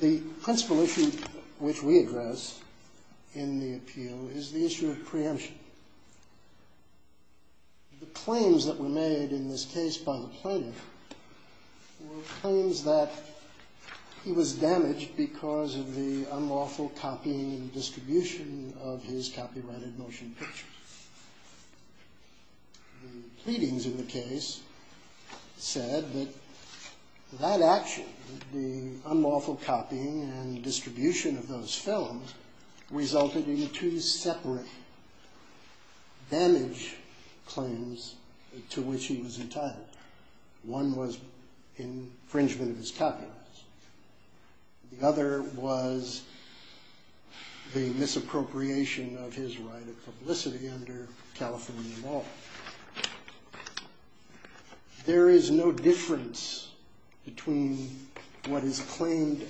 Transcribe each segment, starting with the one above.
The principal issue which we address in the appeal is the issue of preemption. The claims that were made in this case by the plaintiff were claims that he was damaged because of the unlawful copying and distribution of his copyrighted motion pictures. The pleadings in the case said that that action, the unlawful copying and distribution of those films, resulted in two separate damage claims to which he was entitled. One was infringement of his copyrights. The other was the misappropriation of his right of publicity under California law. There is no difference between what is claimed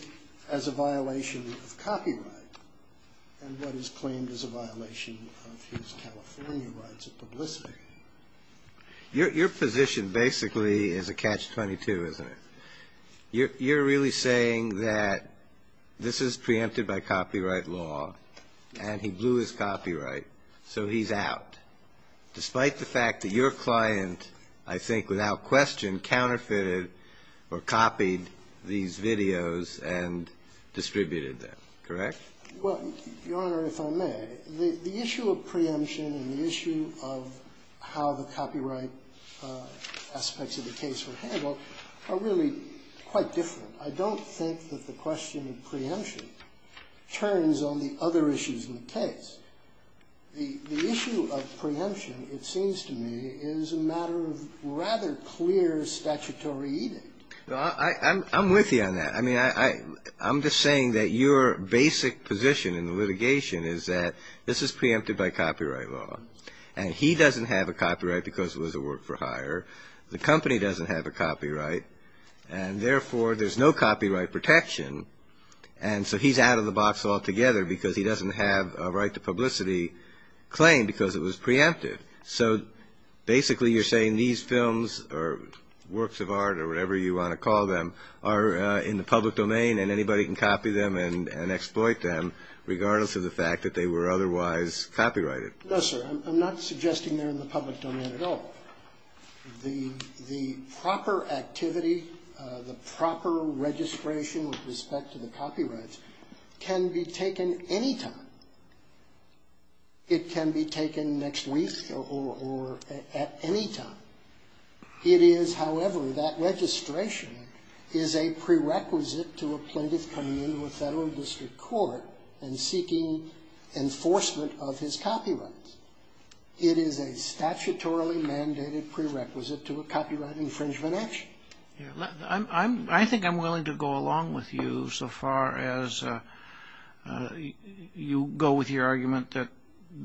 as a violation of copyright and what is claimed as a violation of his California rights of publicity. Your position basically is a catch-22, isn't it? You're really saying that this is preempted by copyright law and he blew his copyright, so he's out, despite the fact that your client, I think without question, counterfeited or copied these videos and distributed them, correct? Well, Your Honor, if I may, the issue of preemption and the issue of how the copyright aspects of the case were handled are really quite different. I don't think that the question of preemption turns on the other issues in the case. The issue of preemption, it seems to me, is a matter of rather clear statutory I'm with you on that. I mean, I'm just saying that your basic position in the litigation is that this is preempted by copyright law. And he doesn't have a copyright because it was a work-for-hire. The company doesn't have a copyright, and therefore there's no copyright protection. And so he's out of the box altogether because he doesn't have a right to publicity claim because it was preempted. So basically you're saying these films or works of art or whatever you want to call them are in the public domain and anybody can copy them and exploit them, regardless of the fact that they were otherwise copyrighted. No, sir. I'm not suggesting they're in the public domain at all. The proper activity, the proper registration with respect to the copyrights can be taken any time. It can be taken next week or at any time. It is, however, that registration is a prerequisite to a plaintiff coming into a federal district court and seeking enforcement of his copyrights. It is a statutorily mandated prerequisite to a copyright infringement action. I think I'm willing to go along with you so far as you go with your argument that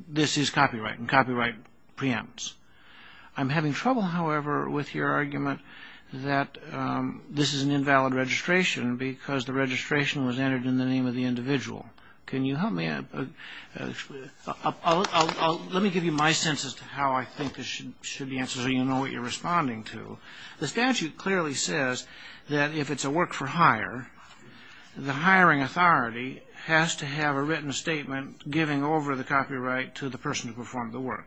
this is copyright and copyright preempts. I'm having trouble, however, with your argument that this is an invalid registration because the registration was entered in the name of the individual. Can you help me? Let me give you my sense as to how I think this should be answered so you know what you're responding to. The statute clearly says that if it's a work-for-hire, the hiring authority has to have a written statement giving over the copyright to the person who performed the work.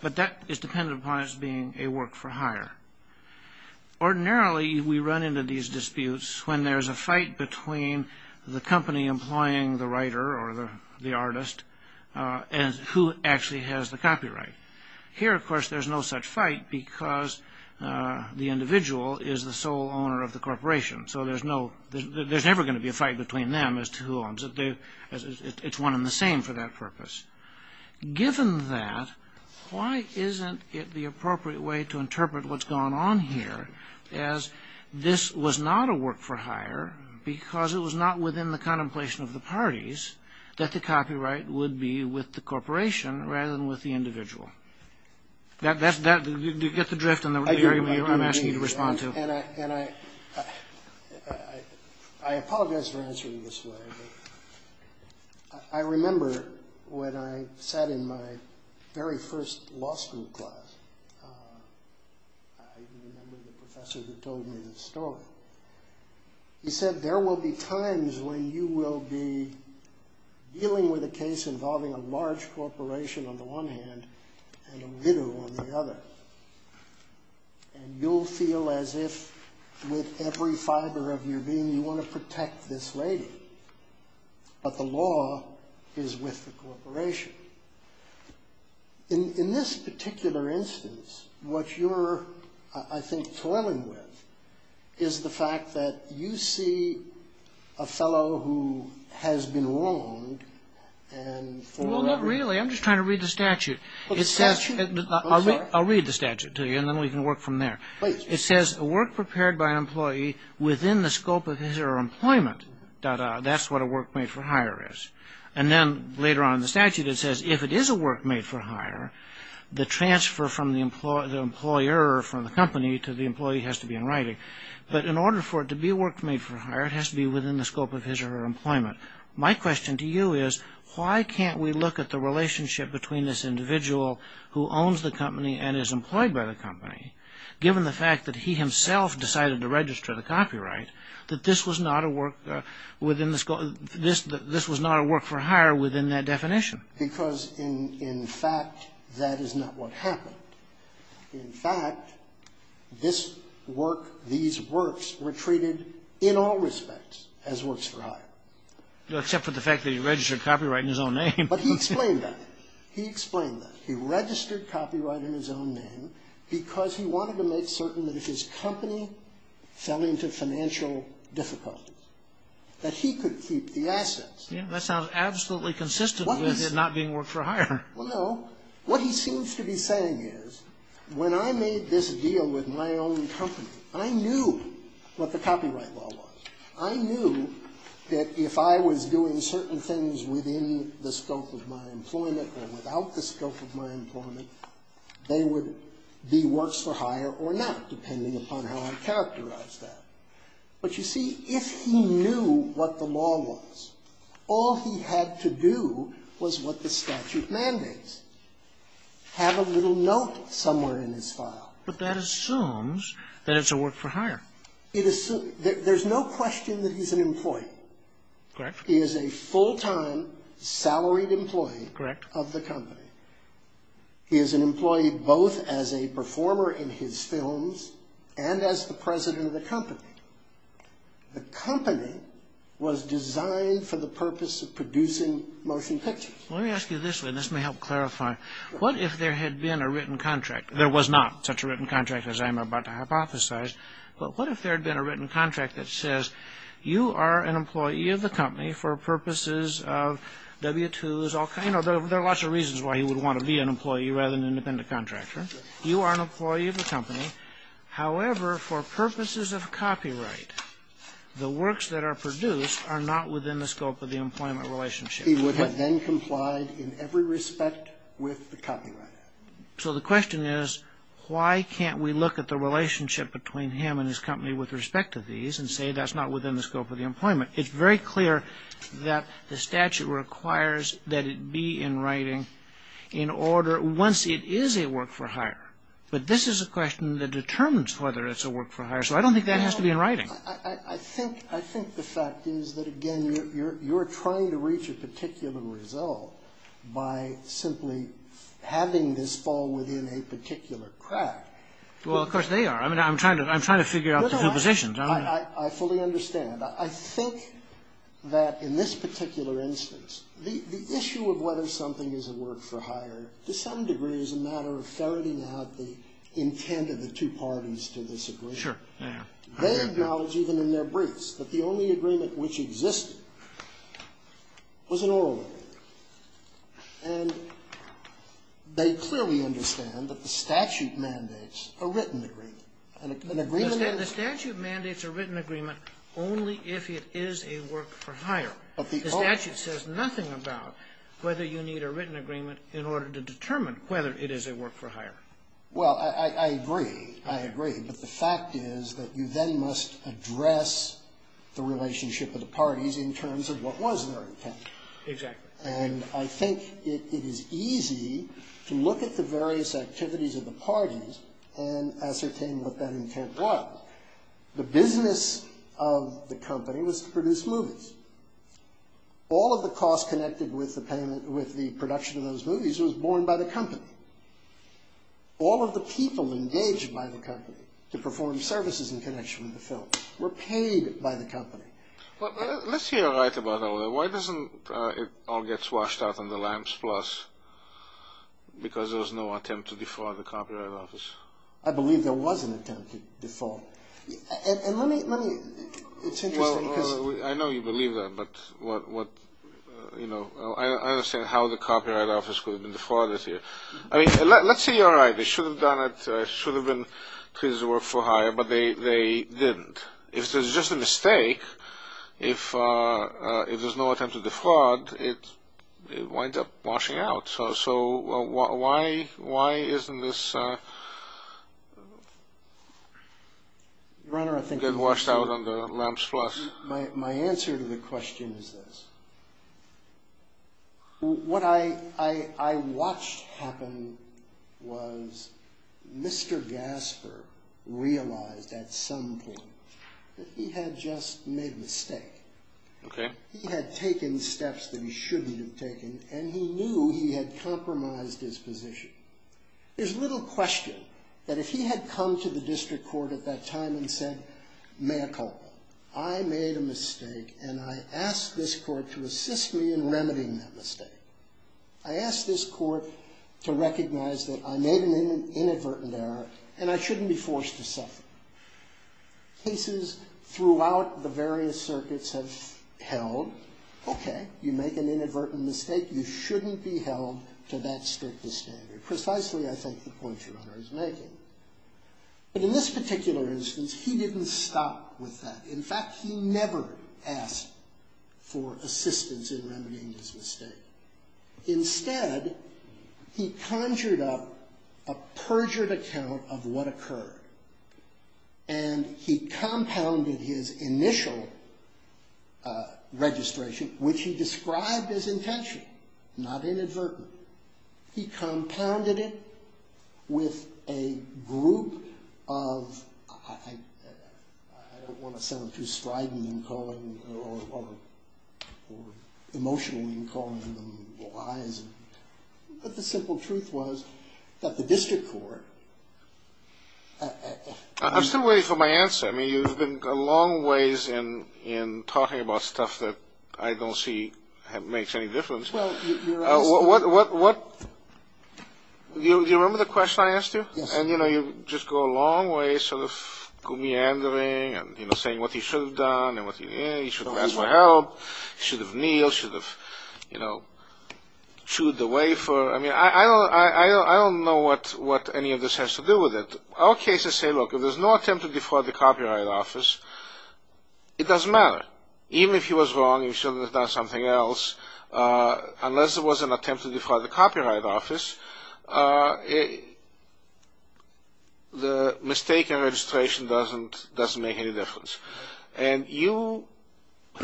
But that is dependent upon it being a work-for-hire. Ordinarily, we run into these disputes when there's a fight between the company employing the writer or the artist and who actually has the copyright. Here, of course, there's no such fight because the individual is the sole owner of the corporation. So there's never going to be a fight between them as to who owns it. It's one and the same for that purpose. Given that, why isn't it the appropriate way to interpret what's going on here as this was not a work-for-hire because it was not within the contemplation of the parties that the copyright would be with the corporation rather than with the individual? Do you get the drift in the area I'm asking you to respond to? And I apologize for answering this way, but I remember when I sat in my very first law school class, I remember the professor who told me this story. He said, there will be times when you will be dealing with a case involving a large corporation on the one hand and a widow on the other. And you'll feel as if with every fiber of your being, you want to protect this lady. But the law is with the corporation. In this particular instance, what you're, I think, toiling with is the fact that you see a fellow who has been wronged. Well, not really. I'm just trying to read the statute. I'll read the statute to you, and then we can work from there. It says, a work prepared by an employee within the scope of his or her employment, that's what a work made-for-hire is. And then later on in the statute, it says, if it is a work made-for-hire, the transfer from the employer or from the company to the employee has to be in writing. But in order for it to be a work made-for-hire, it has to be within the scope of his or her employment. My question to you is, why can't we look at the relationship between this individual who owns the company and is employed by the company, given the fact that he himself decided to register the copyright, that this was not a work for hire within that definition? Because, in fact, that is not what happened. In fact, these works were treated in all respects as works for hire. Except for the fact that he registered copyright in his own name. But he explained that. He explained that. He registered copyright in his own name because he wanted to make certain that if his company fell into financial difficulties, that he could keep the assets. Well, no. What he seems to be saying is, when I made this deal with my own company, I knew what the copyright law was. I knew that if I was doing certain things within the scope of my employment or without the scope of my employment, they would be works for hire or not, depending upon how I characterized that. But, you see, if he knew what the law was, all he had to do was what the statute mandates, have a little note somewhere in his file. But that assumes that it's a work for hire. It assumes. There's no question that he's an employee. Correct. He is a full-time, salaried employee of the company. Correct. He is an employee both as a performer in his films and as the president of the company. The company was designed for the purpose of producing motion pictures. Let me ask you this, and this may help clarify. What if there had been a written contract? There was not such a written contract as I'm about to hypothesize. But what if there had been a written contract that says, you are an employee of the company for purposes of W-2s, all kinds of, there are lots of reasons why he would want to be an employee rather than an independent contractor. You are an employee of the company. However, for purposes of copyright, the works that are produced are not within the scope of the employment relationship. He would have then complied in every respect with the copyright act. So the question is, why can't we look at the relationship between him and his company with respect to these and say that's not within the scope of the employment? It's very clear that the statute requires that it be in writing in order, once it is a work for hire. But this is a question that determines whether it's a work for hire. So I don't think that has to be in writing. I think the fact is that, again, you're trying to reach a particular result by simply having this fall within a particular crack. Well, of course they are. I mean, I'm trying to figure out the two positions. I fully understand. I think that in this particular instance, the issue of whether something is a work for hire to some degree is a matter of ferreting out the intent of the two parties to this agreement. Sure. They acknowledge even in their briefs that the only agreement which existed was an oral agreement. And they clearly understand that the statute mandates a written agreement. The statute mandates a written agreement only if it is a work for hire. The statute says nothing about whether you need a written agreement in order to determine whether it is a work for hire. Well, I agree. I agree. But the fact is that you then must address the relationship of the parties in terms of what was their intent. Exactly. And I think it is easy to look at the various activities of the parties and ascertain what that intent was. The business of the company was to produce movies. All of the costs connected with the production of those movies was borne by the company. All of the people engaged by the company to perform services in connection with the film were paid by the company. Let's hear right about all that. Why doesn't it all get swashed out on the lamps plus because there was no attempt to defraud the copyright office? I believe there was an attempt to defraud. And let me, it's interesting because I know you believe that, but what, you know, I understand how the copyright office could have been defrauded here. I mean, let's say you're right. They should have done it. It should have been because it was a work for hire, but they didn't. If there's just a mistake, if there's no attempt to defraud, it winds up washing out. So why isn't this runner, I think, washed out on the lamps? Plus my answer to the question is this. What I I watched happen was Mr. Gasper realized at some point that he had just made a mistake. OK. He had taken steps that he shouldn't have taken and he knew he had compromised his position. There's little question that if he had come to the district court at that time and said, May I call? I made a mistake and I asked this court to assist me in remedying that mistake. I asked this court to recognize that I made an inadvertent error and I shouldn't be forced to suffer. Cases throughout the various circuits have held. OK. You make an inadvertent mistake. You shouldn't be held to that strict standard. Precisely, I think, the point your honor is making. But in this particular instance, he didn't stop with that. In fact, he never asked for assistance in remedying his mistake. Instead, he conjured up a perjured account of what occurred. And he compounded his initial registration, which he described as intentional, not inadvertent. He compounded it with a group of, I don't want to sound too strident in calling or emotional in calling them lies, but the simple truth was that the district court. I'm still waiting for my answer. I mean, you've been a long ways in talking about stuff that I don't see makes any difference. Well, your honor. Do you remember the question I asked you? Yes. And, you know, you just go a long way sort of meandering and, you know, saying what he should have done He should have asked for help. He should have kneeled. He should have, you know, chewed the wafer. I mean, I don't know what any of this has to do with it. Our cases say, look, if there's no attempt to defraud the copyright office, it doesn't matter. Even if he was wrong, he shouldn't have done something else. Unless it was an attempt to defraud the copyright office, the mistake in registration doesn't make any difference. And you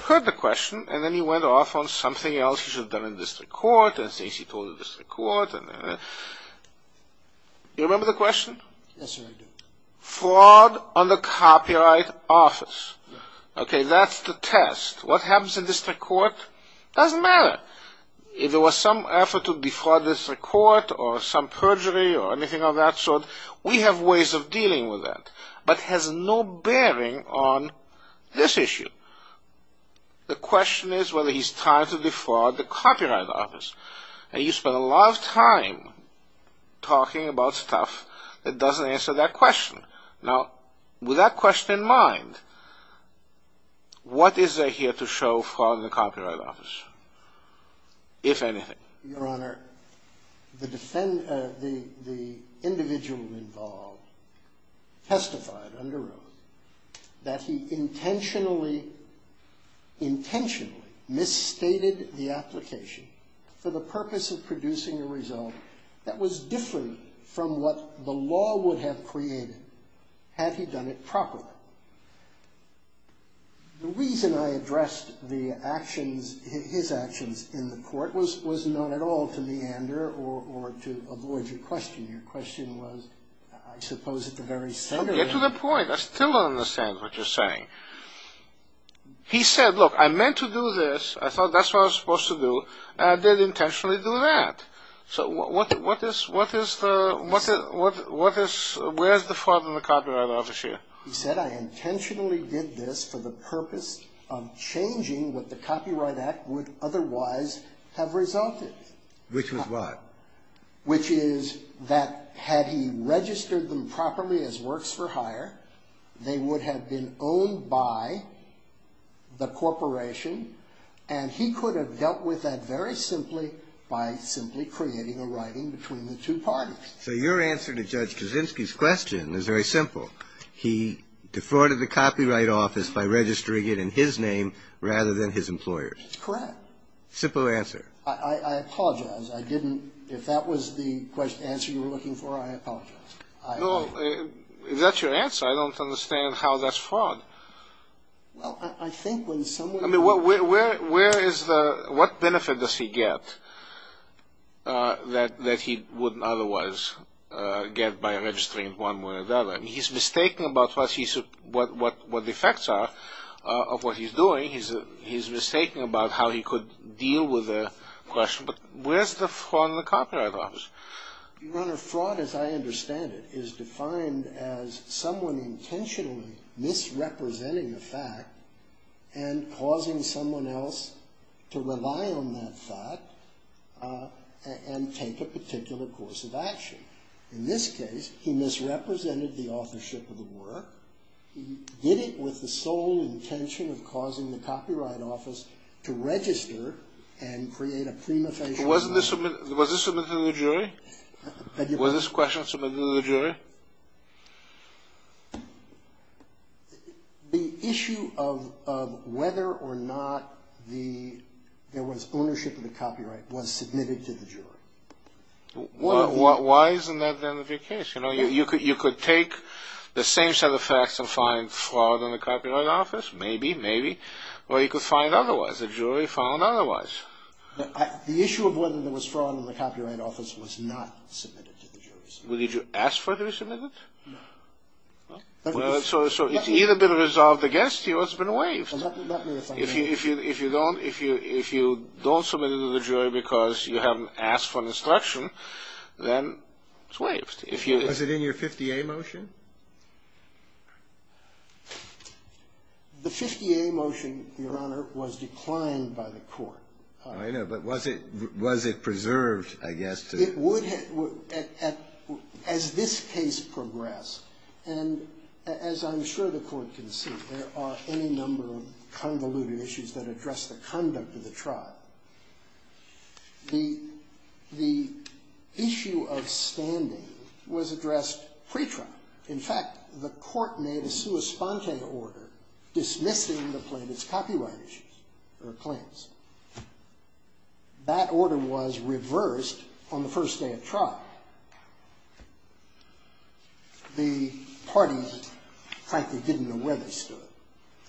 heard the question and then you went off on something else he should have done in district court and things he told the district court. You remember the question? Yes, sir, I do. Fraud on the copyright office. Okay, that's the test. What happens in district court doesn't matter. If there was some effort to defraud district court or some perjury or anything of that sort, we have ways of dealing with that, but has no bearing on this issue. The question is whether he's trying to defraud the copyright office. And you spend a lot of time talking about stuff that doesn't answer that question. Now, with that question in mind, what is there here to show for the copyright office, if anything? Your Honor, the individual involved testified under oath that he intentionally, intentionally, misstated the application for the purpose of producing a result that was different from what the law would have created had he done it properly. The reason I addressed his actions in the court was not at all to meander or to avoid your question. Your question was, I suppose, at the very center. Get to the point. I still don't understand what you're saying. He said, look, I meant to do this. I thought that's what I was supposed to do, and I did intentionally do that. So where's the fraud on the copyright office here? He said, I intentionally did this for the purpose of changing what the Copyright Act would otherwise have resulted. Which was what? Which is that had he registered them properly as works for hire, they would have been owned by the corporation, and he could have dealt with that very simply by simply creating a writing between the two parties. So your answer to Judge Kaczynski's question is very simple. He defrauded the copyright office by registering it in his name rather than his employer's. That's correct. Simple answer. I apologize. I didn't. If that was the answer you were looking for, I apologize. No, that's your answer. I don't understand how that's fraud. Well, I think when someone. I mean, where is the, what benefit does he get that he wouldn't otherwise get by registering one way or the other? I mean, he's mistaking about what the effects are of what he's doing. He's mistaking about how he could deal with the question. But where's the fraud on the copyright office? Your Honor, fraud as I understand it is defined as someone intentionally misrepresenting a fact and causing someone else to rely on that fact and take a particular course of action. In this case, he misrepresented the authorship of the work. He did it with the sole intention of causing the copyright office to register and create a prima facie. Was this submitted to the jury? Was this question submitted to the jury? The issue of whether or not there was ownership of the copyright was submitted to the jury. Why isn't that the end of your case? You know, you could take the same set of facts and find fraud on the copyright office. Maybe, maybe. Or you could find otherwise. The jury found otherwise. The issue of whether there was fraud on the copyright office was not submitted to the jury. Did you ask for it to be submitted? No. So it's either been resolved against you or it's been waived. If you don't, if you don't submit it to the jury because you haven't asked for an instruction, then it's waived. Was it in your 50A motion? The 50A motion, Your Honor, was declined by the court. I know, but was it preserved, I guess? As this case progressed, and as I'm sure the court can see, there are any number of convoluted issues that address the conduct of the trial. The issue of standing was addressed pre-trial. In fact, the court made a sua sponte order dismissing the plaintiff's copyright issues or claims. That order was reversed on the first day of trial. The parties, frankly, didn't know where they stood.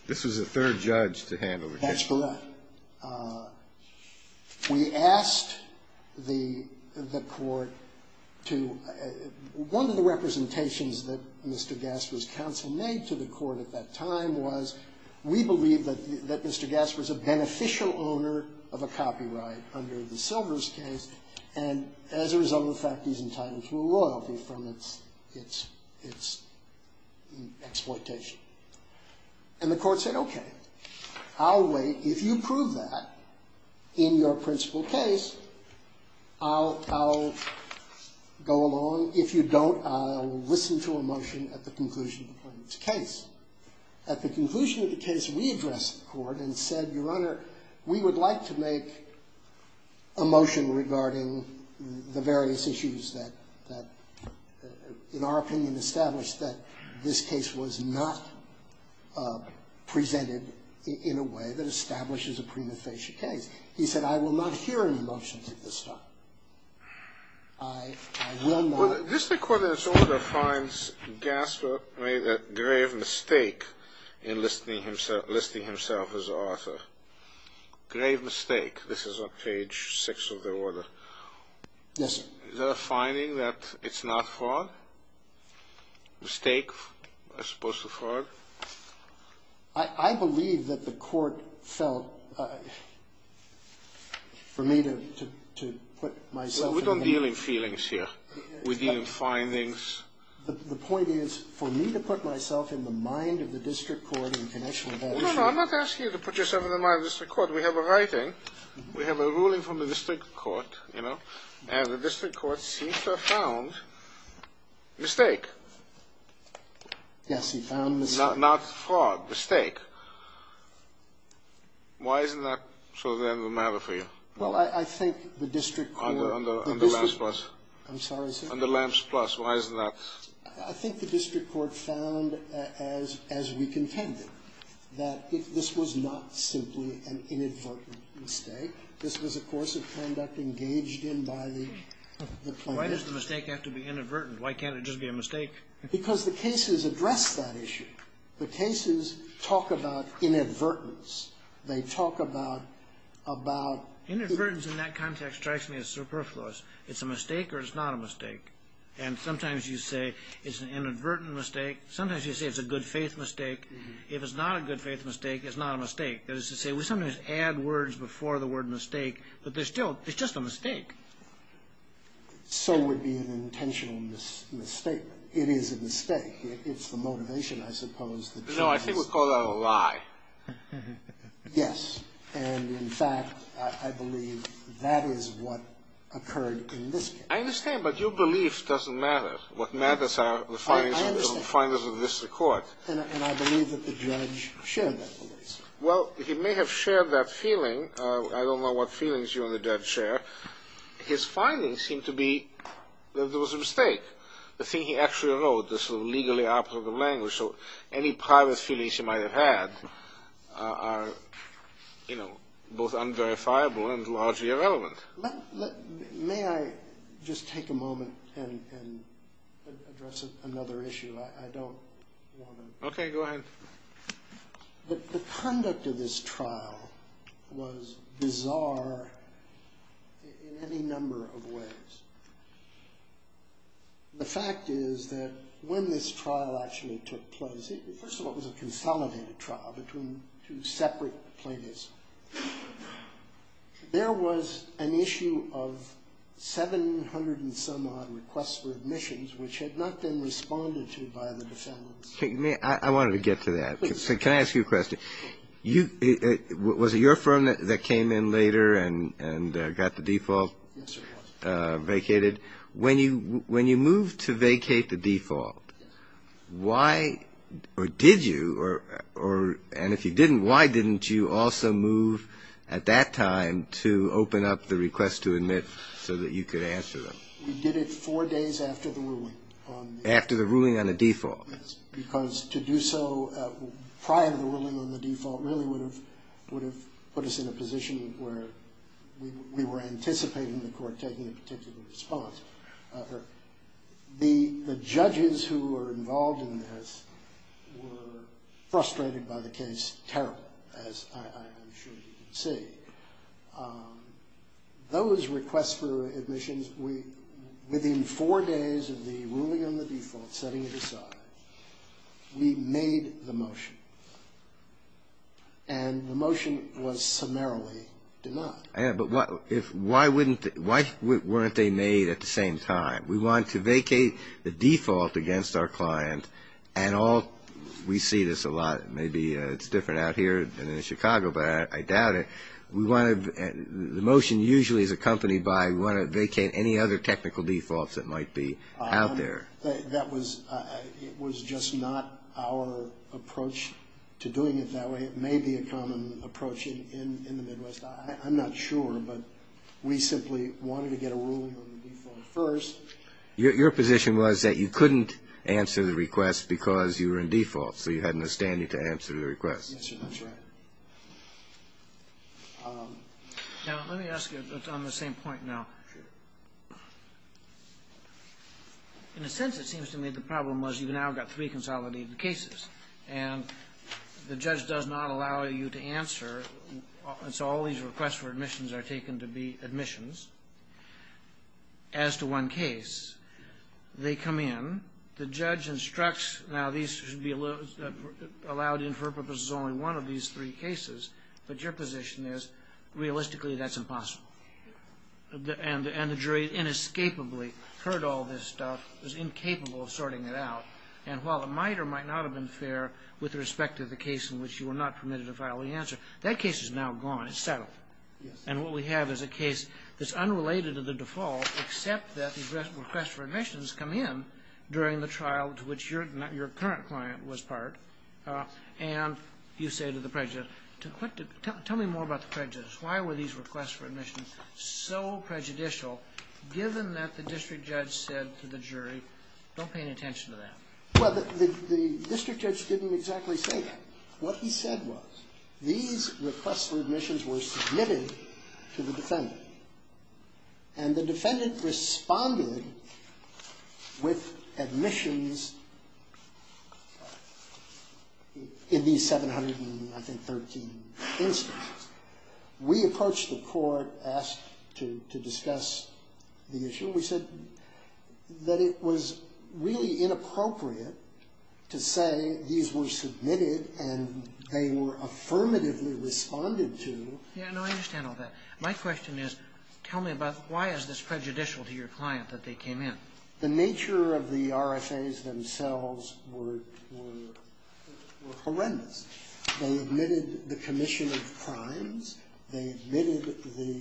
This was the third judge to handle the case. That's correct. We asked the court to, one of the representations that Mr. Gaspar's counsel made to the court at that time was, we believe that Mr. Gaspar's a beneficial owner of a copyright under the Silvers case, and as a result of the fact he's entitled to a royalty from its exploitation. And the court said, okay, I'll wait. If you prove that in your principal case, I'll go along. If you don't, I'll listen to a motion at the conclusion of the plaintiff's case. At the conclusion of the case, we addressed the court and said, Your Honor, we would like to make a motion regarding the various issues that, in our opinion, established that this case was not presented in a way that establishes a prima facie case. He said, I will not hear a motion to this time. I will not. Well, this court in its order finds Gaspar made a grave mistake in listing himself as the author. Grave mistake. This is on page 6 of the order. Yes, sir. Is there a finding that it's not fraud? Mistake as opposed to fraud? I believe that the court felt, for me to put myself in the... We don't deal in feelings here. We deal in findings. The point is, for me to put myself in the mind of the district court in connection with that issue... No, no, I'm not asking you to put yourself in the mind of the district court. We have a writing. We have a ruling from the district court, you know, and the district court seems to have found mistake. Yes, he found mistake. Not fraud. Mistake. Why isn't that sort of the end of the matter for you? Well, I think the district court... On the lamps plus. I'm sorry, sir. On the lamps plus. Why isn't that? I think the district court found, as we contended, that this was not simply an inadvertent mistake. This was, of course, a conduct engaged in by the plaintiff. Why does the mistake have to be inadvertent? Why can't it just be a mistake? Because the cases address that issue. The cases talk about inadvertence. They talk about, about... It's a mistake or it's not a mistake. And sometimes you say it's an inadvertent mistake. Sometimes you say it's a good faith mistake. If it's not a good faith mistake, it's not a mistake. That is to say, we sometimes add words before the word mistake, but there's still... It's just a mistake. So would be an intentional mistake. It is a mistake. It's the motivation, I suppose. No, I think we call that a lie. Yes. And, in fact, I believe that is what occurred in this case. I understand, but your belief doesn't matter. What matters are the findings of the district court. And I believe that the judge shared that belief. Well, he may have shared that feeling. I don't know what feelings you and the judge share. His findings seem to be that there was a mistake. The thing he actually wrote, the sort of legally applicable language, so any private feelings you might have had are, you know, both unverifiable and largely irrelevant. May I just take a moment and address another issue? I don't want to... Okay, go ahead. The conduct of this trial was bizarre in any number of ways. The fact is that when this trial actually took place, first of all, it was a consolidated trial between two separate plaintiffs. There was an issue of 700 and some odd requests for admissions, which had not been responded to by the defendants. I wanted to get to that. Can I ask you a question? Was it your firm that came in later and got the default? Yes, it was. When you moved to vacate the default, why, or did you, and if you didn't, why didn't you also move at that time to open up the request to admit so that you could answer them? We did it four days after the ruling. After the ruling on the default? Yes, because to do so prior to the ruling on the default really would have put us in a position where we were anticipating the court taking a particular response. The judges who were involved in this were frustrated by the case terribly, as I'm sure you can see. Those requests for admissions, within four days of the ruling on the default setting it aside, we made the motion. And the motion was summarily denied. But why weren't they made at the same time? We wanted to vacate the default against our client and all, we see this a lot, maybe it's different out here than in Chicago, but I doubt it. The motion usually is accompanied by we want to vacate any other technical defaults that might be out there. That was just not our approach to doing it that way. It may be a common approach in the Midwest. I'm not sure, but we simply wanted to get a ruling on the default first. Your position was that you couldn't answer the request because you were in default, so you had no standing to answer the request. Yes, sir, that's right. Now, let me ask you, on the same point now. Sure. In a sense, it seems to me the problem was you've now got three consolidated cases, and the judge does not allow you to answer, and so all these requests for admissions are taken to be admissions. As to one case, they come in, the judge instructs, now these should be allowed in for purposes of only one of these three cases, but your position is realistically that's impossible. And the jury inescapably heard all this stuff, was incapable of sorting it out, and while the miter might not have been fair with respect to the case in which you were not permitted to file the answer, that case is now gone. It's settled. And what we have is a case that's unrelated to the default, except that the request for admissions come in during the trial to which your current client was part, Why were these requests for admissions so prejudicial, given that the district judge said to the jury, don't pay any attention to that? Well, the district judge didn't exactly say that. What he said was these requests for admissions were submitted to the defendant, and the defendant responded with admissions in these 713 instances. We approached the court, asked to discuss the issue. We said that it was really inappropriate to say these were submitted and they were affirmatively responded to. Yeah, no, I understand all that. My question is, tell me about why is this prejudicial to your client that they came in? The nature of the RSAs themselves were horrendous. They admitted the commission of crimes. They admitted the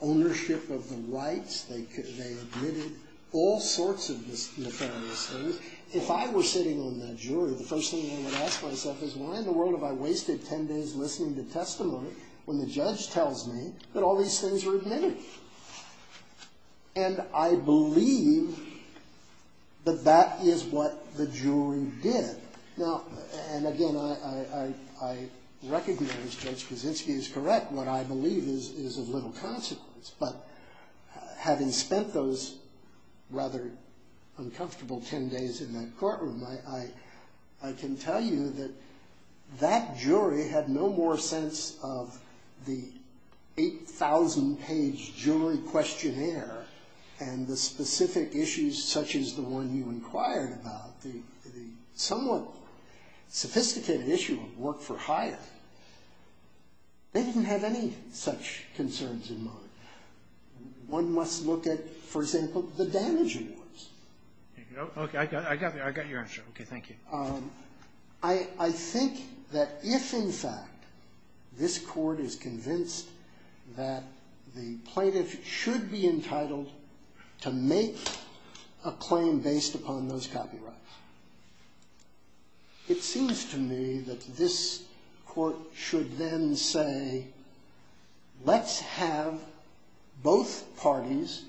ownership of the rights. They admitted all sorts of nefarious things. If I were sitting on that jury, the first thing I would ask myself is, why in the world have I wasted 10 days listening to testimony when the judge tells me that all these things were admitted? And I believe that that is what the jury did. Now, and again, I recognize Judge Kaczynski is correct. What I believe is of little consequence. But having spent those rather uncomfortable 10 days in that courtroom, I can tell you that that jury had no more sense of the 8,000-page jury questionnaire and the specific issues such as the one you inquired about, the somewhat sophisticated issue of work for hire. They didn't have any such concerns in mind. One must look at, for example, the damage it was. Okay, I got your answer. Okay, thank you. I think that if, in fact, this court is convinced that the plaintiff should be entitled to make a claim based upon those copyrights, it seems to me that this court should then say, let's have both parties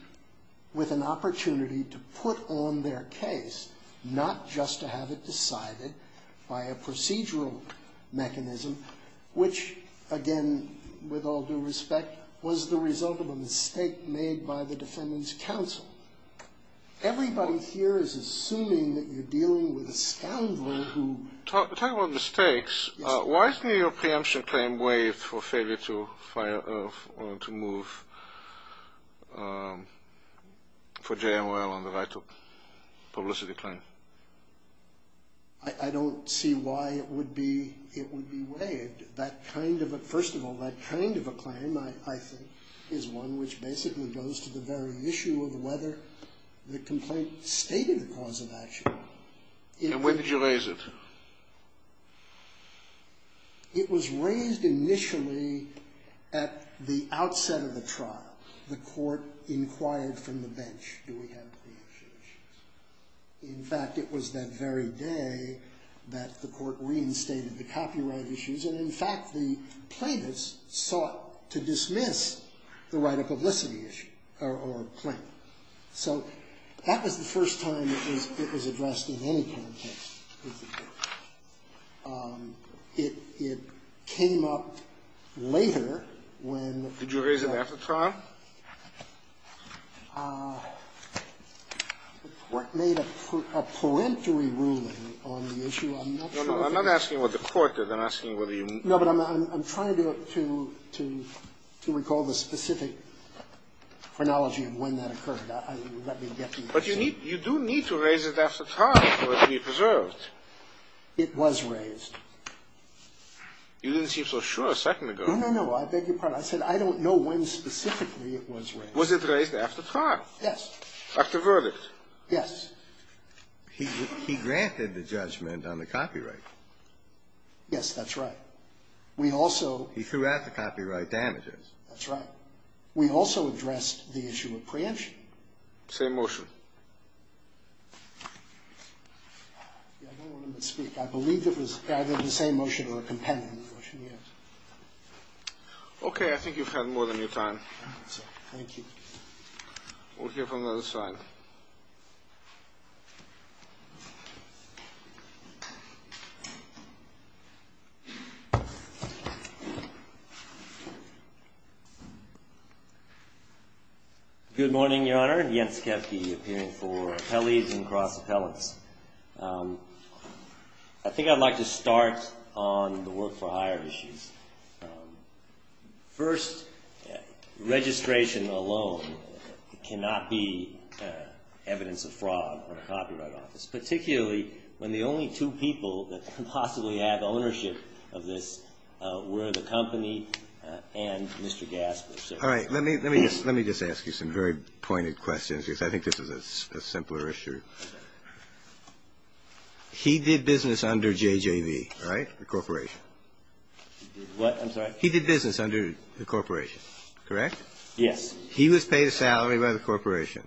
with an opportunity to put on their case, not just to have it decided by a procedural mechanism, which, again, with all due respect, was the result of a mistake made by the Defendant's counsel. Everybody here is assuming that you're dealing with a scoundrel who... wanted to move for JML on the right to publicity claim. I don't see why it would be waived. First of all, that kind of a claim, I think, is one which basically goes to the very issue of whether the complaint stated the cause of action. And when did you raise it? It was raised initially at the outset of the trial. The court inquired from the bench, do we have any issues? In fact, it was that very day that the court reinstated the copyright issues, and, in fact, the plaintiffs sought to dismiss the right of publicity issue, or claim. So that was the first time it was addressed in any context. It came up later when... Did you raise it after the trial? It made a peremptory ruling on the issue. I'm not sure if it... I'm not asking what the court did. I'm asking whether you... No, but I'm trying to recall the specific chronology of when that occurred. Let me get to you. But you do need to raise it after trial for it to be preserved. It was raised. You didn't seem so sure a second ago. No, no, no. I beg your pardon. I said I don't know when specifically it was raised. Was it raised after trial? Yes. After verdict? Yes. He granted the judgment on the copyright. Yes, that's right. We also... He threw out the copyright damages. That's right. We also addressed the issue of preemption. Same motion. I don't want him to speak. I believe it was either the same motion or a compendium of the motion, yes. Okay. I think you've had more than your time. Thank you. We'll hear from the other side. Good morning, Your Honor. Jens Kefke, appearing for appellees and cross-appellants. I think I'd like to start on the work for hire issues. First, registration alone cannot be evidence of fraud on a copyright office, particularly when the only two people that could possibly have ownership of this were the company and Mr. Gasper. All right. Let me just ask you some very pointed questions because I think this is a simpler issue. He did business under JJV, right, the corporation? What? I'm sorry? He did business under the corporation, correct? Yes. He was paid a salary by the corporation,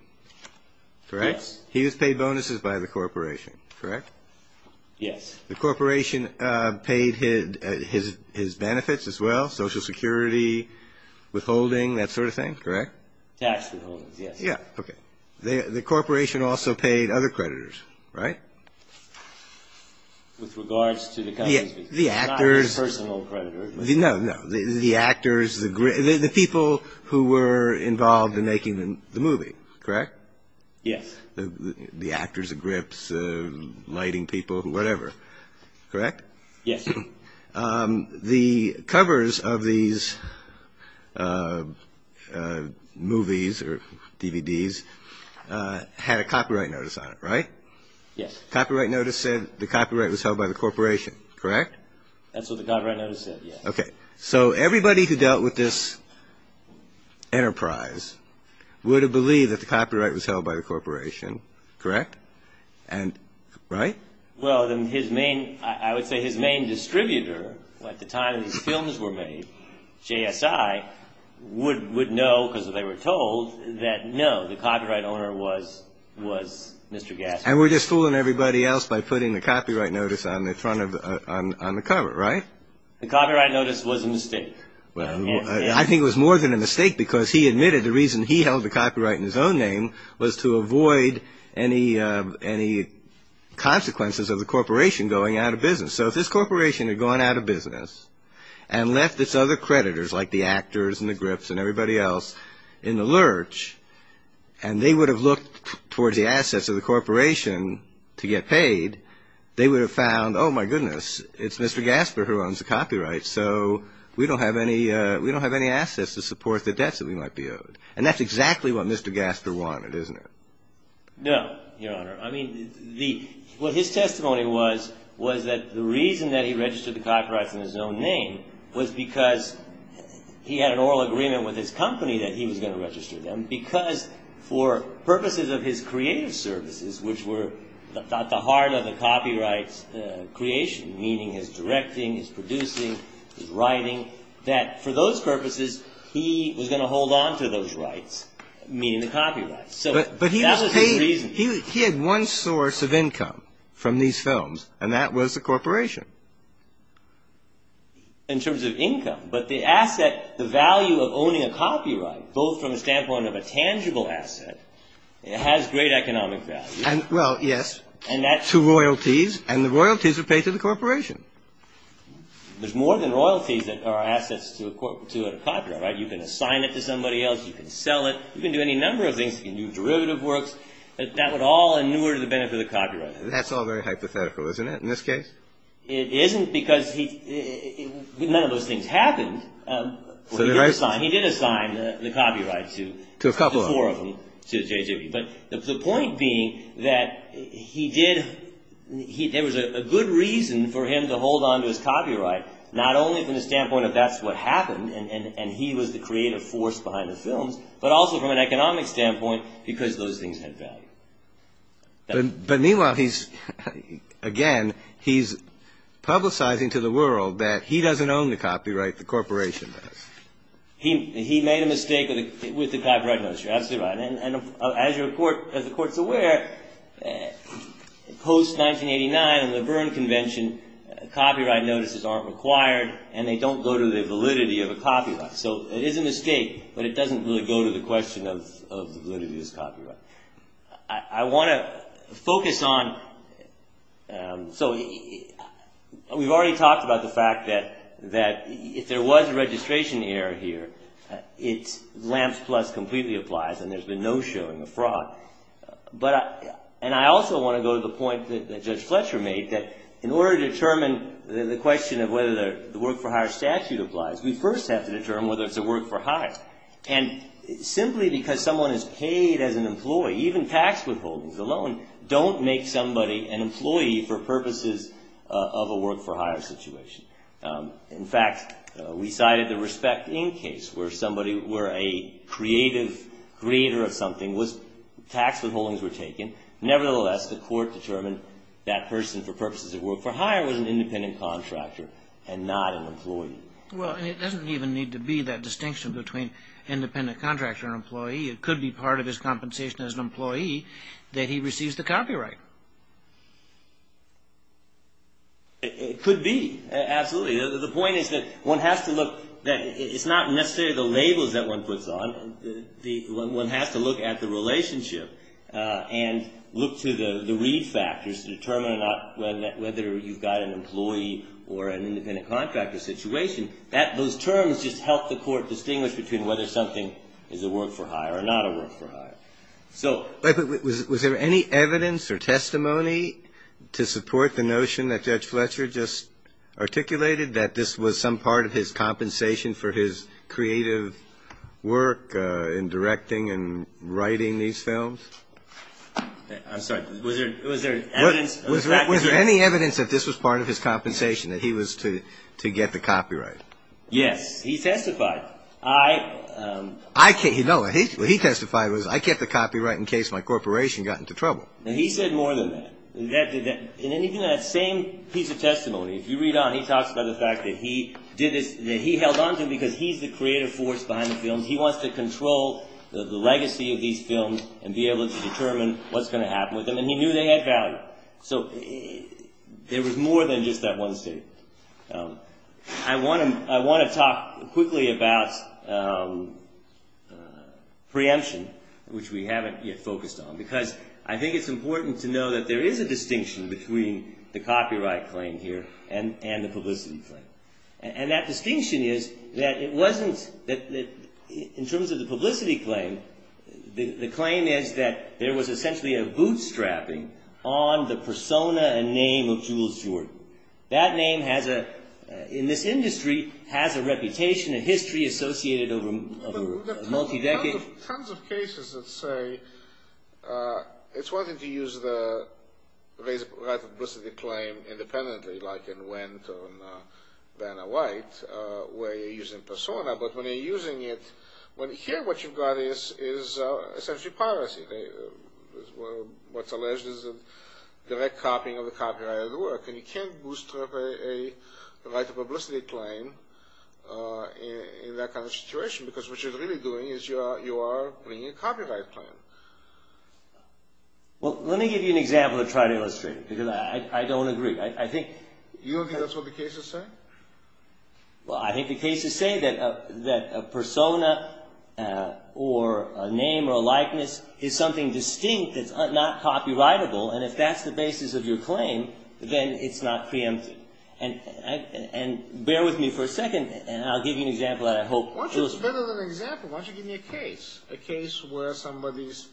correct? Yes. He was paid bonuses by the corporation, correct? Yes. The corporation paid his benefits as well, Social Security, withholding, that sort of thing, correct? Tax withholdings, yes. Yeah. Okay. The corporation also paid other creditors, right? With regards to the company. The actors. Not a personal creditor. No, no. The actors, the people who were involved in making the movie, correct? Yes. The actors, the grips, the lighting people, whatever, correct? Yes. The covers of these movies or DVDs had a copyright notice on it, right? Yes. Copyright notice said the copyright was held by the corporation, correct? That's what the copyright notice said, yes. Okay. So everybody who dealt with this enterprise would have believed that the copyright was held by the corporation, correct? Right? Well, then his main, I would say his main distributor at the time his films were made, JSI, would know because they were told that no, the copyright owner was Mr. Gaspar. And we're just fooling everybody else by putting the copyright notice on the front of the, on the cover, right? The copyright notice was a mistake. Well, I think it was more than a mistake because he admitted the reason he held the copyright in his own name was to avoid any consequences of the corporation going out of business. So if this corporation had gone out of business and left its other creditors like the actors and the grips and everybody else in the lurch and they would have looked towards the assets of the corporation to get paid, they would have found, oh, my goodness, it's Mr. Gaspar who owns the copyrights. So we don't have any, we don't have any assets to support the debts that we might be owed. And that's exactly what Mr. Gaspar wanted, isn't it? No, Your Honor. I mean, the, what his testimony was, was that the reason that he registered the copyrights in his own name was because he had an oral agreement with his company that he was going to register them because for purposes of his creative services, which were at the heart of the copyrights creation, meaning his directing, his producing, his writing, that for those purposes, he was going to hold on to those rights, meaning the copyrights. So that was his reason. But he was paid, he had one source of income from these films, and that was the corporation. In terms of income, but the asset, the value of owning a copyright, both from the standpoint of a tangible asset, it has great economic value. Well, yes, to royalties, and the royalties are paid to the corporation. There's more than royalties that are assets to a copyright. You can assign it to somebody else. You can sell it. You can do any number of things. You can do derivative works. That would all inure to the benefit of the copyright holder. That's all very hypothetical, isn't it, in this case? It isn't, because none of those things happened. He did assign the copyrights to a couple of them, to J.J.B. But the point being that there was a good reason for him to hold on to his copyright, not only from the standpoint of that's what happened, and he was the creative force behind the films, but also from an economic standpoint, because those things had value. But meanwhile, he's, again, he's publicizing to the world that he doesn't own the copyright. The corporation does. He made a mistake with the copyright notice. You're absolutely right. And as the Court's aware, post-1989 in the Berne Convention, copyright notices aren't required, so it is a mistake, but it doesn't really go to the question of whether it is copyright. I want to focus on, so we've already talked about the fact that if there was a registration error here, it's lamps plus completely applies, and there's been no showing of fraud. And I also want to go to the point that Judge Fletcher made, that in order to determine the question of whether the work-for-hire statute applies, we first have to determine whether it's a work-for-hire. And simply because someone is paid as an employee, even tax withholdings alone, don't make somebody an employee for purposes of a work-for-hire situation. In fact, we cited the Respect Inc. case, where somebody, where a creative, creator of something was, tax withholdings were taken. Nevertheless, the Court determined that person, for purposes of work-for-hire, was an independent contractor and not an employee. Well, and it doesn't even need to be that distinction between independent contractor and employee. It could be part of his compensation as an employee that he receives the copyright. It could be, absolutely. The point is that one has to look, that it's not necessarily the labels that one puts on, one has to look at the relationship and look to the read factors to determine whether you've got an employee or an independent contractor situation. Those terms just help the Court distinguish between whether something is a work-for-hire or not a work-for-hire. Was there any evidence or testimony to support the notion that Judge Fletcher just articulated, that this was some part of his compensation for his creative work in directing and writing these films? I'm sorry. Was there evidence? Was there any evidence that this was part of his compensation, that he was to get the copyright? Yes. He testified. I can't, no. What he testified was, I kept the copyright in case my corporation got into trouble. And he said more than that. In anything, that same piece of testimony, if you read on, he talks about the fact that he did this, that he held on to, because he's the creative force behind the films. He wants to control the legacy of these films and be able to determine what's going to happen with them. And he knew they had value. So there was more than just that one statement. I want to talk quickly about preemption, which we haven't yet focused on, because I think it's important to know that there is a distinction between the copyright claim here and the publicity claim. And that distinction is that it wasn't, in terms of the publicity claim, the claim is that there was essentially a bootstrapping on the persona and name of Jules Jordan. That name has a, in this industry, has a reputation, a history associated over a multi-decade. There are tons of cases that say it's one thing to use the right to publicity claim independently, like in Wendt or in Banner-White, where you're using persona, but when you're using it, here what you've got is essentially piracy. What's alleged is a direct copying of the copyright of the work. And you can't bootstrap a right to publicity claim in that kind of situation, because what you're really doing is you are bringing a copyright claim. Well, let me give you an example to try to illustrate it, because I don't agree. I think... You don't think that's what the cases say? Well, I think the cases say that a persona or a name or a likeness is something distinct that's not copyrightable, and if that's the basis of your claim, then it's not preempted. And bear with me for a second, and I'll give you an example that I hope... Why don't you give me an example? Why don't you give me a case? A case where somebody's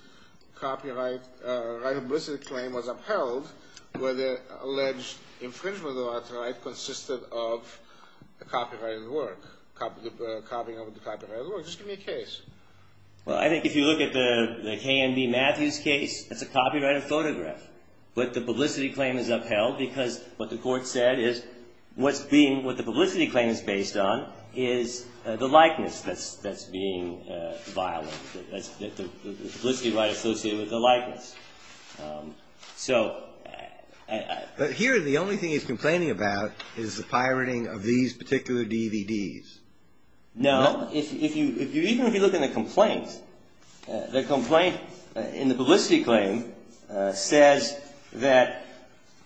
copyright, right of publicity claim was upheld, where the alleged infringement of the right to the right consisted of a copyrighted work, copying of the copyrighted work. Just give me a case. Well, I think if you look at the K.M.B. Matthews case, it's a copyrighted photograph, but the publicity claim is upheld because what the court said is what the publicity claim is based on is the likeness that's being violated, the publicity right associated with the likeness. So... But here the only thing he's complaining about is the pirating of these particular DVDs. No. Even if you look in the complaint, the complaint in the publicity claim says that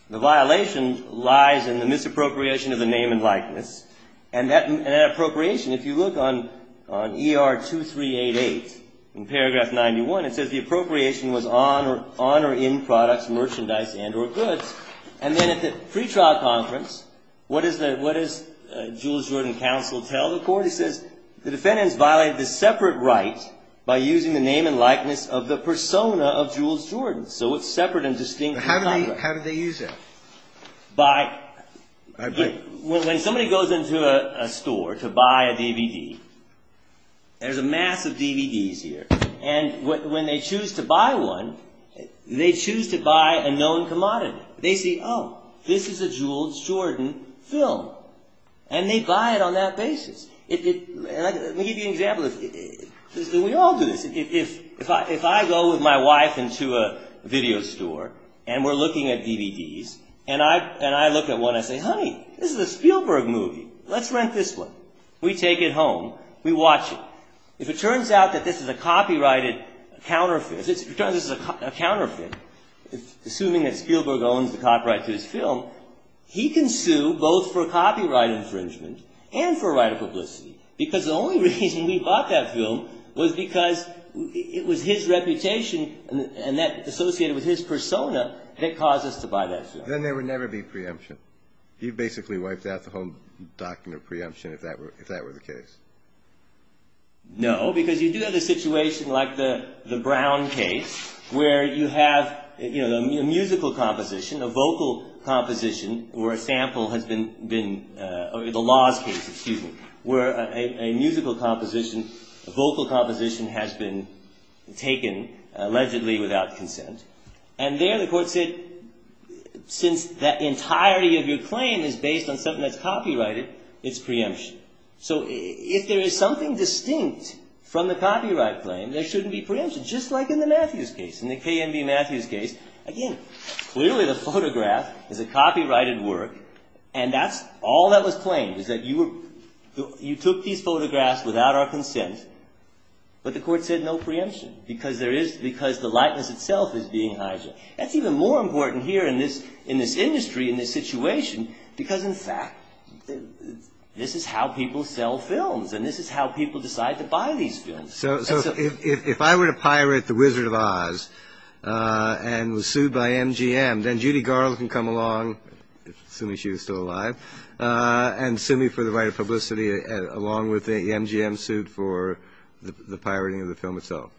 the violation lies in the misappropriation of the name and likeness, and that appropriation, if you look on ER 2388 in paragraph 91, it says the appropriation was on or in products, merchandise, and or goods. And then at the pretrial conference, what does Jules Jordan counsel tell the court? He says the defendants violated the separate right by using the name and likeness of the persona of Jules Jordan. So it's separate and distinct from the copyright. How did they use it? By... When somebody goes into a store to buy a DVD, there's a mass of DVDs here. And when they choose to buy one, they choose to buy a known commodity. They see, oh, this is a Jules Jordan film. And they buy it on that basis. Let me give you an example. We all do this. If I go with my wife into a video store, and we're looking at DVDs, and I look at one, I say, honey, this is a Spielberg movie. Let's rent this one. We take it home. We watch it. If it turns out that this is a copyrighted counterfeit, assuming that Spielberg owns the copyright to this film, he can sue both for copyright infringement and for right of publicity. Because the only reason we bought that film was because it was his reputation and that associated with his persona that caused us to buy that film. Then there would never be preemption. He basically wiped out the whole document of preemption if that were the case. No, because you do have a situation like the Brown case, where you have a musical composition, a vocal composition, where a sample has been, or the Laws case, excuse me, where a musical composition, a vocal composition, has been taken allegedly without consent. And there the court said, since the entirety of your claim is based on something that's copyrighted, it's preemption. So if there is something distinct from the copyright claim, there shouldn't be preemption, just like in the Matthews case. In the K.M.B. Matthews case, again, clearly the photograph is a copyrighted work, and that's all that was claimed was that you took these photographs without our consent, but the court said no preemption because the likeness itself is being hijacked. That's even more important here in this industry, in this situation, because in fact this is how people sell films, and this is how people decide to buy these films. So if I were to pirate The Wizard of Oz and was sued by MGM, then Judy Garland can come along, assuming she was still alive, and sue me for the right of publicity along with the MGM suit for the pirating of the film itself.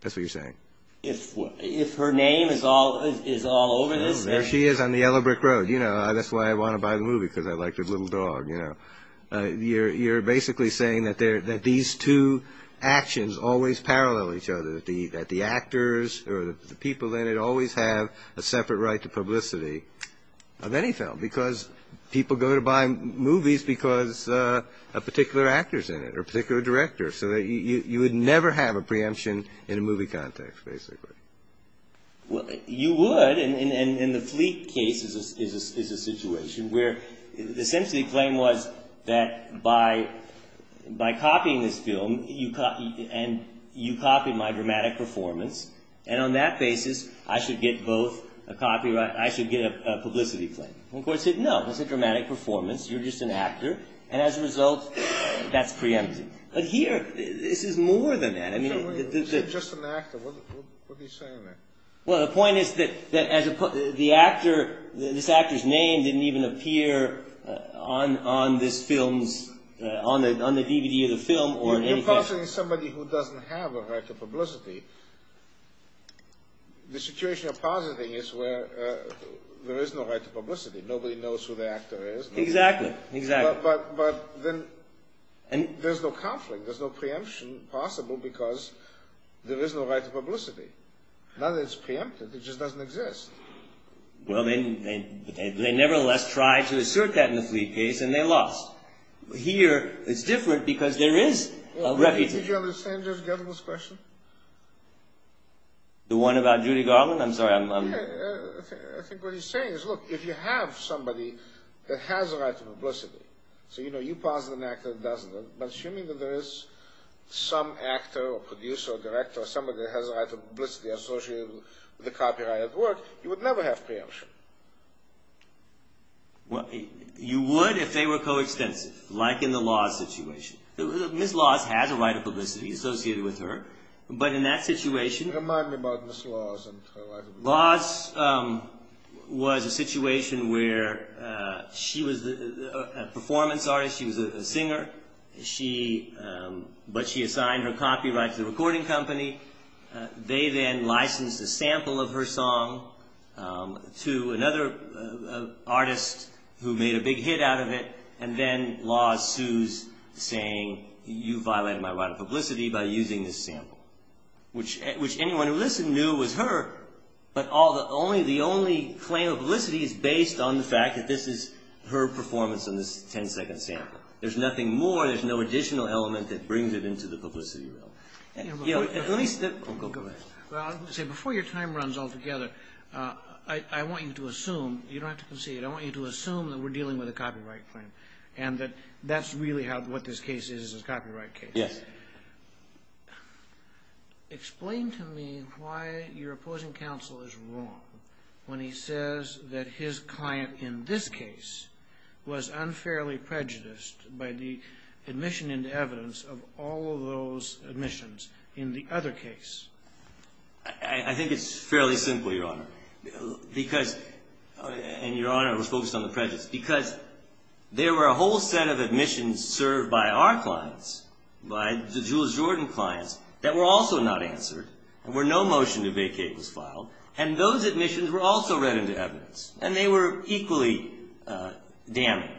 That's what you're saying. If her name is all over this. There she is on the yellow brick road. You know, that's why I want to buy the movie, because I like the little dog, you know. You're basically saying that these two actions always parallel each other, that the actors or the people in it always have a separate right to publicity of any film, because people go to buy movies because of particular actors in it or particular directors, so that you would never have a preemption in a movie context, basically. You would, and the Fleet case is a situation where essentially the claim was that by copying this film, and you copy my dramatic performance, and on that basis I should get both a copyright, I should get a publicity claim. Of course, no, that's a dramatic performance. You're just an actor, and as a result, that's preempted. But here, this is more than that. Wait a minute. He's just an actor. What are you saying there? Well, the point is that the actor, this actor's name didn't even appear on this film's, on the DVD of the film or anything. You're positing somebody who doesn't have a right to publicity. The situation you're positing is where there is no right to publicity. Nobody knows who the actor is. Exactly, exactly. But then there's no conflict. There's no preemption possible because there is no right to publicity. Now that it's preempted, it just doesn't exist. Well, they nevertheless tried to assert that in the Fleet case, and they lost. Here, it's different because there is a reputation. Did you understand Judge Gettleman's question? The one about Judy Garland? I'm sorry. I think what he's saying is, look, if you have somebody that has a right to publicity, so, you know, you posit an actor that doesn't, but assuming that there is some actor or producer or director or somebody that has a right to publicity associated with the copyright at work, you would never have preemption. You would if they were coextensive, like in the Laws situation. Ms. Laws has a right to publicity associated with her, but in that situation— Laws was a situation where she was a performance artist, she was a singer, but she assigned her copyright to the recording company. They then licensed a sample of her song to another artist who made a big hit out of it, and then Laws sues, saying, you violated my right to publicity by using this sample, which anyone who listened knew was her, but the only claim of publicity is based on the fact that this is her performance on this ten-second sample. There's nothing more, there's no additional element that brings it into the publicity realm. Let me step—oh, go ahead. Well, I was going to say, before your time runs all together, I want you to assume, you don't have to concede, I want you to assume that we're dealing with a copyright claim and that that's really what this case is, is a copyright case. Yes. Explain to me why your opposing counsel is wrong when he says that his client in this case was unfairly prejudiced by the admission into evidence of all of those admissions in the other case. I think it's fairly simple, Your Honor, because—and, Your Honor, I was focused on the prejudice—because there were a whole set of admissions served by our clients, by the Jules Jordan clients, that were also not answered, and where no motion to vacate was filed, and those admissions were also read into evidence, and they were equally damning.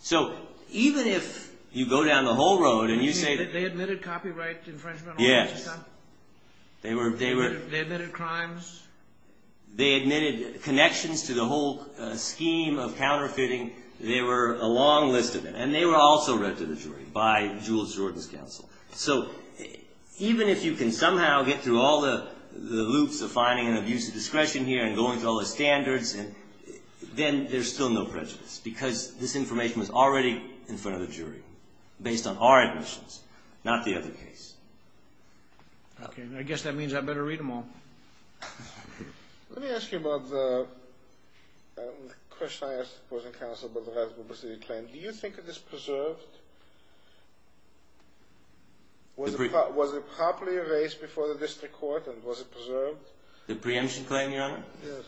So, even if you go down the whole road and you say that— They admitted copyright infringement all the time? Yes. They admitted crimes? They admitted connections to the whole scheme of counterfeiting. They were a long list of them, and they were also read to the jury by Jules Jordan's counsel. So, even if you can somehow get through all the loops of finding an abuse of discretion here and going through all the standards, then there's still no prejudice because this information was already in front of the jury, based on our admissions, not the other case. Okay. I guess that means I'd better read them all. Let me ask you about the—the question I asked the opposing counsel about the Rasmussen claim. Do you think it is preserved? Was it properly erased before the district court, and was it preserved? The preemption claim, Your Honor? Yes.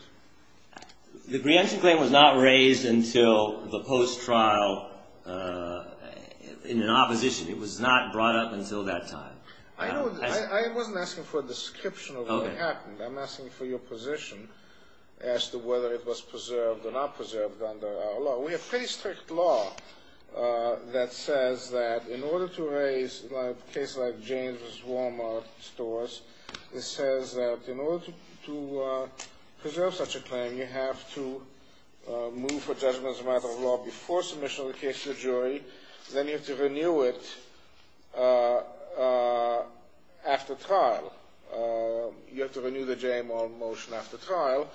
The preemption claim was not raised until the post-trial—in an opposition. It was not brought up until that time. I know—I wasn't asking for a description of what happened. Okay. I'm asking for your position as to whether it was preserved or not preserved under our law. We have pretty strict law that says that in order to erase a case like James' Walmart stores, it says that in order to preserve such a claim, you have to move for judgment as a matter of law before submission of the case to the jury. Then you have to renew it after trial. You have to renew the James' Walmart motion after trial.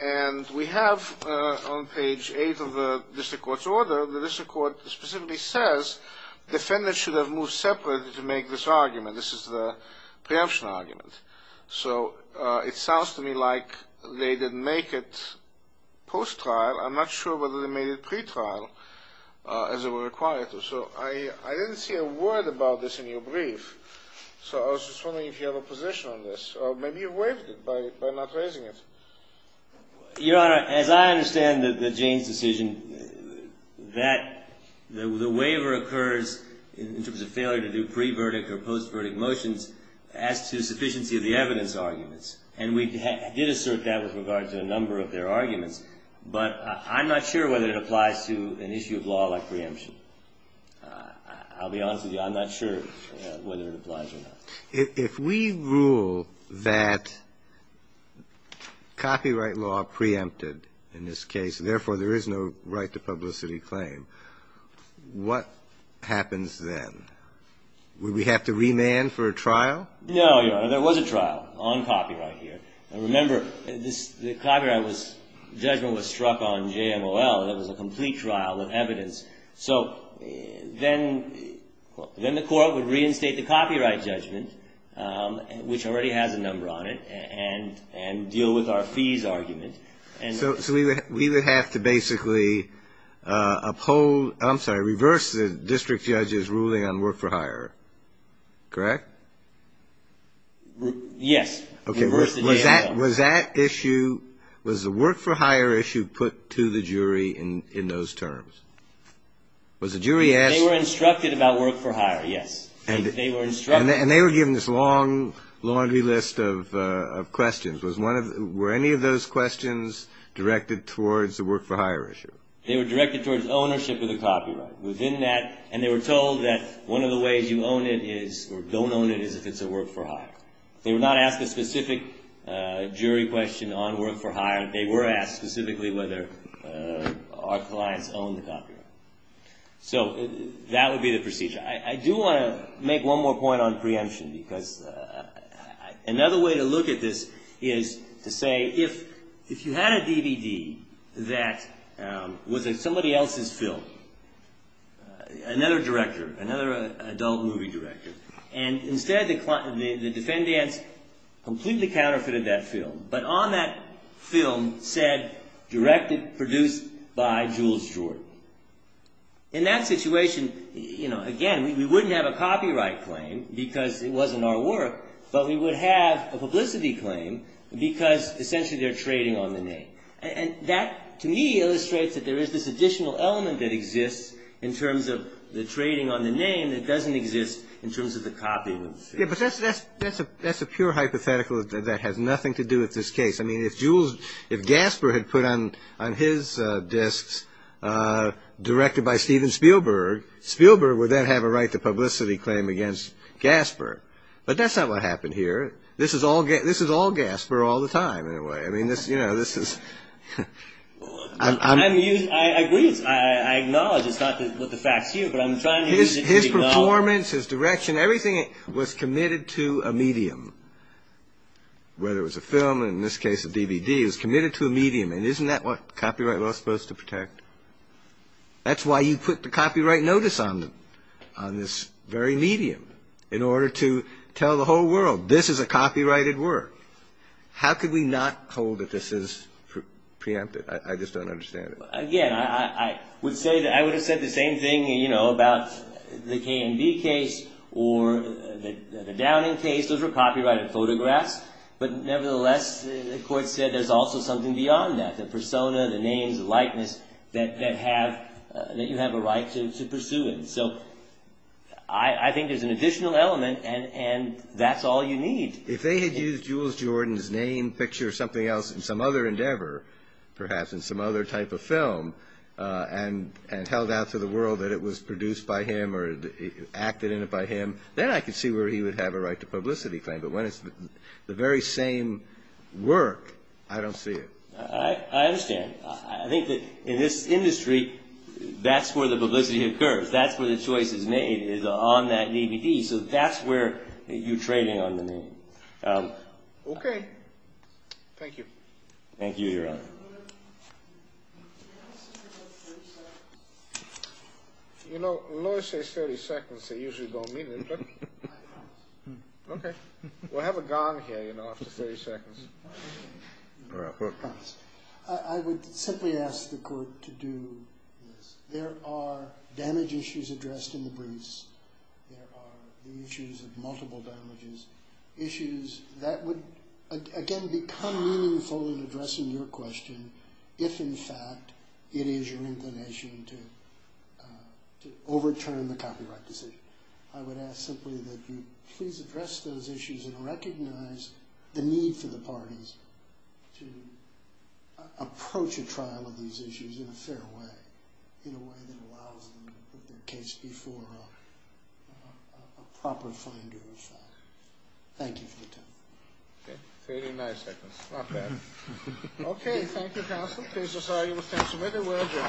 And we have on page 8 of the district court's order, the district court specifically says defendants should have moved separately to make this argument. This is the preemption argument. So it sounds to me like they didn't make it post-trial. I'm not sure whether they made it pretrial as it were required to. So I didn't see a word about this in your brief. So I was just wondering if you have a position on this. Maybe you waived it by not raising it. Your Honor, as I understand the James' decision, that the waiver occurs in terms of failure to do pre-verdict or post-verdict motions as to sufficiency of the evidence arguments. And we did assert that with regard to a number of their arguments. But I'm not sure whether it applies to an issue of law like preemption. I'll be honest with you. I'm not sure whether it applies or not. If we rule that copyright law preempted in this case, therefore there is no right to publicity claim, what happens then? Would we have to remand for a trial? No, Your Honor. There was a trial on copyright here. Remember, the copyright judgment was struck on JMOL. That was a complete trial of evidence. So then the court would reinstate the copyright judgment, which already has a number on it, and deal with our fees argument. So we would have to basically reverse the district judge's ruling on work for hire, correct? Yes. Okay. Was that issue, was the work for hire issue put to the jury in those terms? Was the jury asked? They were instructed about work for hire, yes. They were instructed. And they were given this long laundry list of questions. Were any of those questions directed towards the work for hire issue? They were directed towards ownership of the copyright. Within that, and they were told that one of the ways you own it is, or don't own it is if it's a work for hire. They were not asked a specific jury question on work for hire. They were asked specifically whether our clients own the copyright. So that would be the procedure. I do want to make one more point on preemption because another way to look at this is to say, if you had a DVD that was somebody else's film, another director, another adult movie director, and instead the defendant's completely counterfeited that film, but on that film said, directed, produced by Jules Jordan. In that situation, you know, again, we wouldn't have a copyright claim because it wasn't our work, but we would have a publicity claim because essentially they're trading on the name. And that to me illustrates that there is this additional element that exists in terms of the trading on the name that doesn't exist in terms of the copying of the film. Yeah, but that's a pure hypothetical that has nothing to do with this case. I mean, if Jules, if Gasper had put on his discs, directed by Steven Spielberg, Spielberg would then have a right to publicity claim against Gasper. But that's not what happened here. This is all Gasper all the time in a way. I mean, you know, this is. I agree. I acknowledge it's not what the facts here, but I'm trying to use it. His performance, his direction, everything was committed to a medium. Whether it was a film, in this case a DVD, it was committed to a medium. And isn't that what copyright law is supposed to protect? That's why you put the copyright notice on them, on this very medium, in order to tell the whole world this is a copyrighted work. How could we not hold that this is preempted? I just don't understand it. Again, I would have said the same thing, you know, about the K&B case or the Downing case. Those were copyrighted photographs. But nevertheless, the court said there's also something beyond that, the persona, the names, the likeness, that you have a right to pursue it. So I think there's an additional element, and that's all you need. If they had used Jules Jordan's name, picture, or something else in some other endeavor, perhaps in some other type of film, and held out to the world that it was produced by him or acted in it by him, then I could see where he would have a right to publicity claim. But when it's the very same work, I don't see it. I understand. I think that in this industry, that's where the publicity occurs. That's where the choice is made, is on that DVD. So that's where you're trading on the name. Okay. Thank you. Thank you, Your Honor. You know, when lawyers say 30 seconds, they usually don't mean it. Okay. We'll have a gong here, you know, after 30 seconds. I would simply ask the court to do this. There are damage issues addressed in the briefs. There are the issues of multiple damages, issues that would, again, become meaningful in addressing your question if, in fact, it is your inclination to overturn the copyright decision. I would ask simply that you please address those issues and recognize the need for the parties to approach a trial of these issues in a fair way, in a way that allows them to put their case before a proper finder of facts. Thank you for your time. Okay. 39 seconds. Not bad. Okay. Thank you, counsel. Case is argued with tense amendment. Thank you. Thank you. Thank you. Thank you. Thank you. Thank you. Thank you.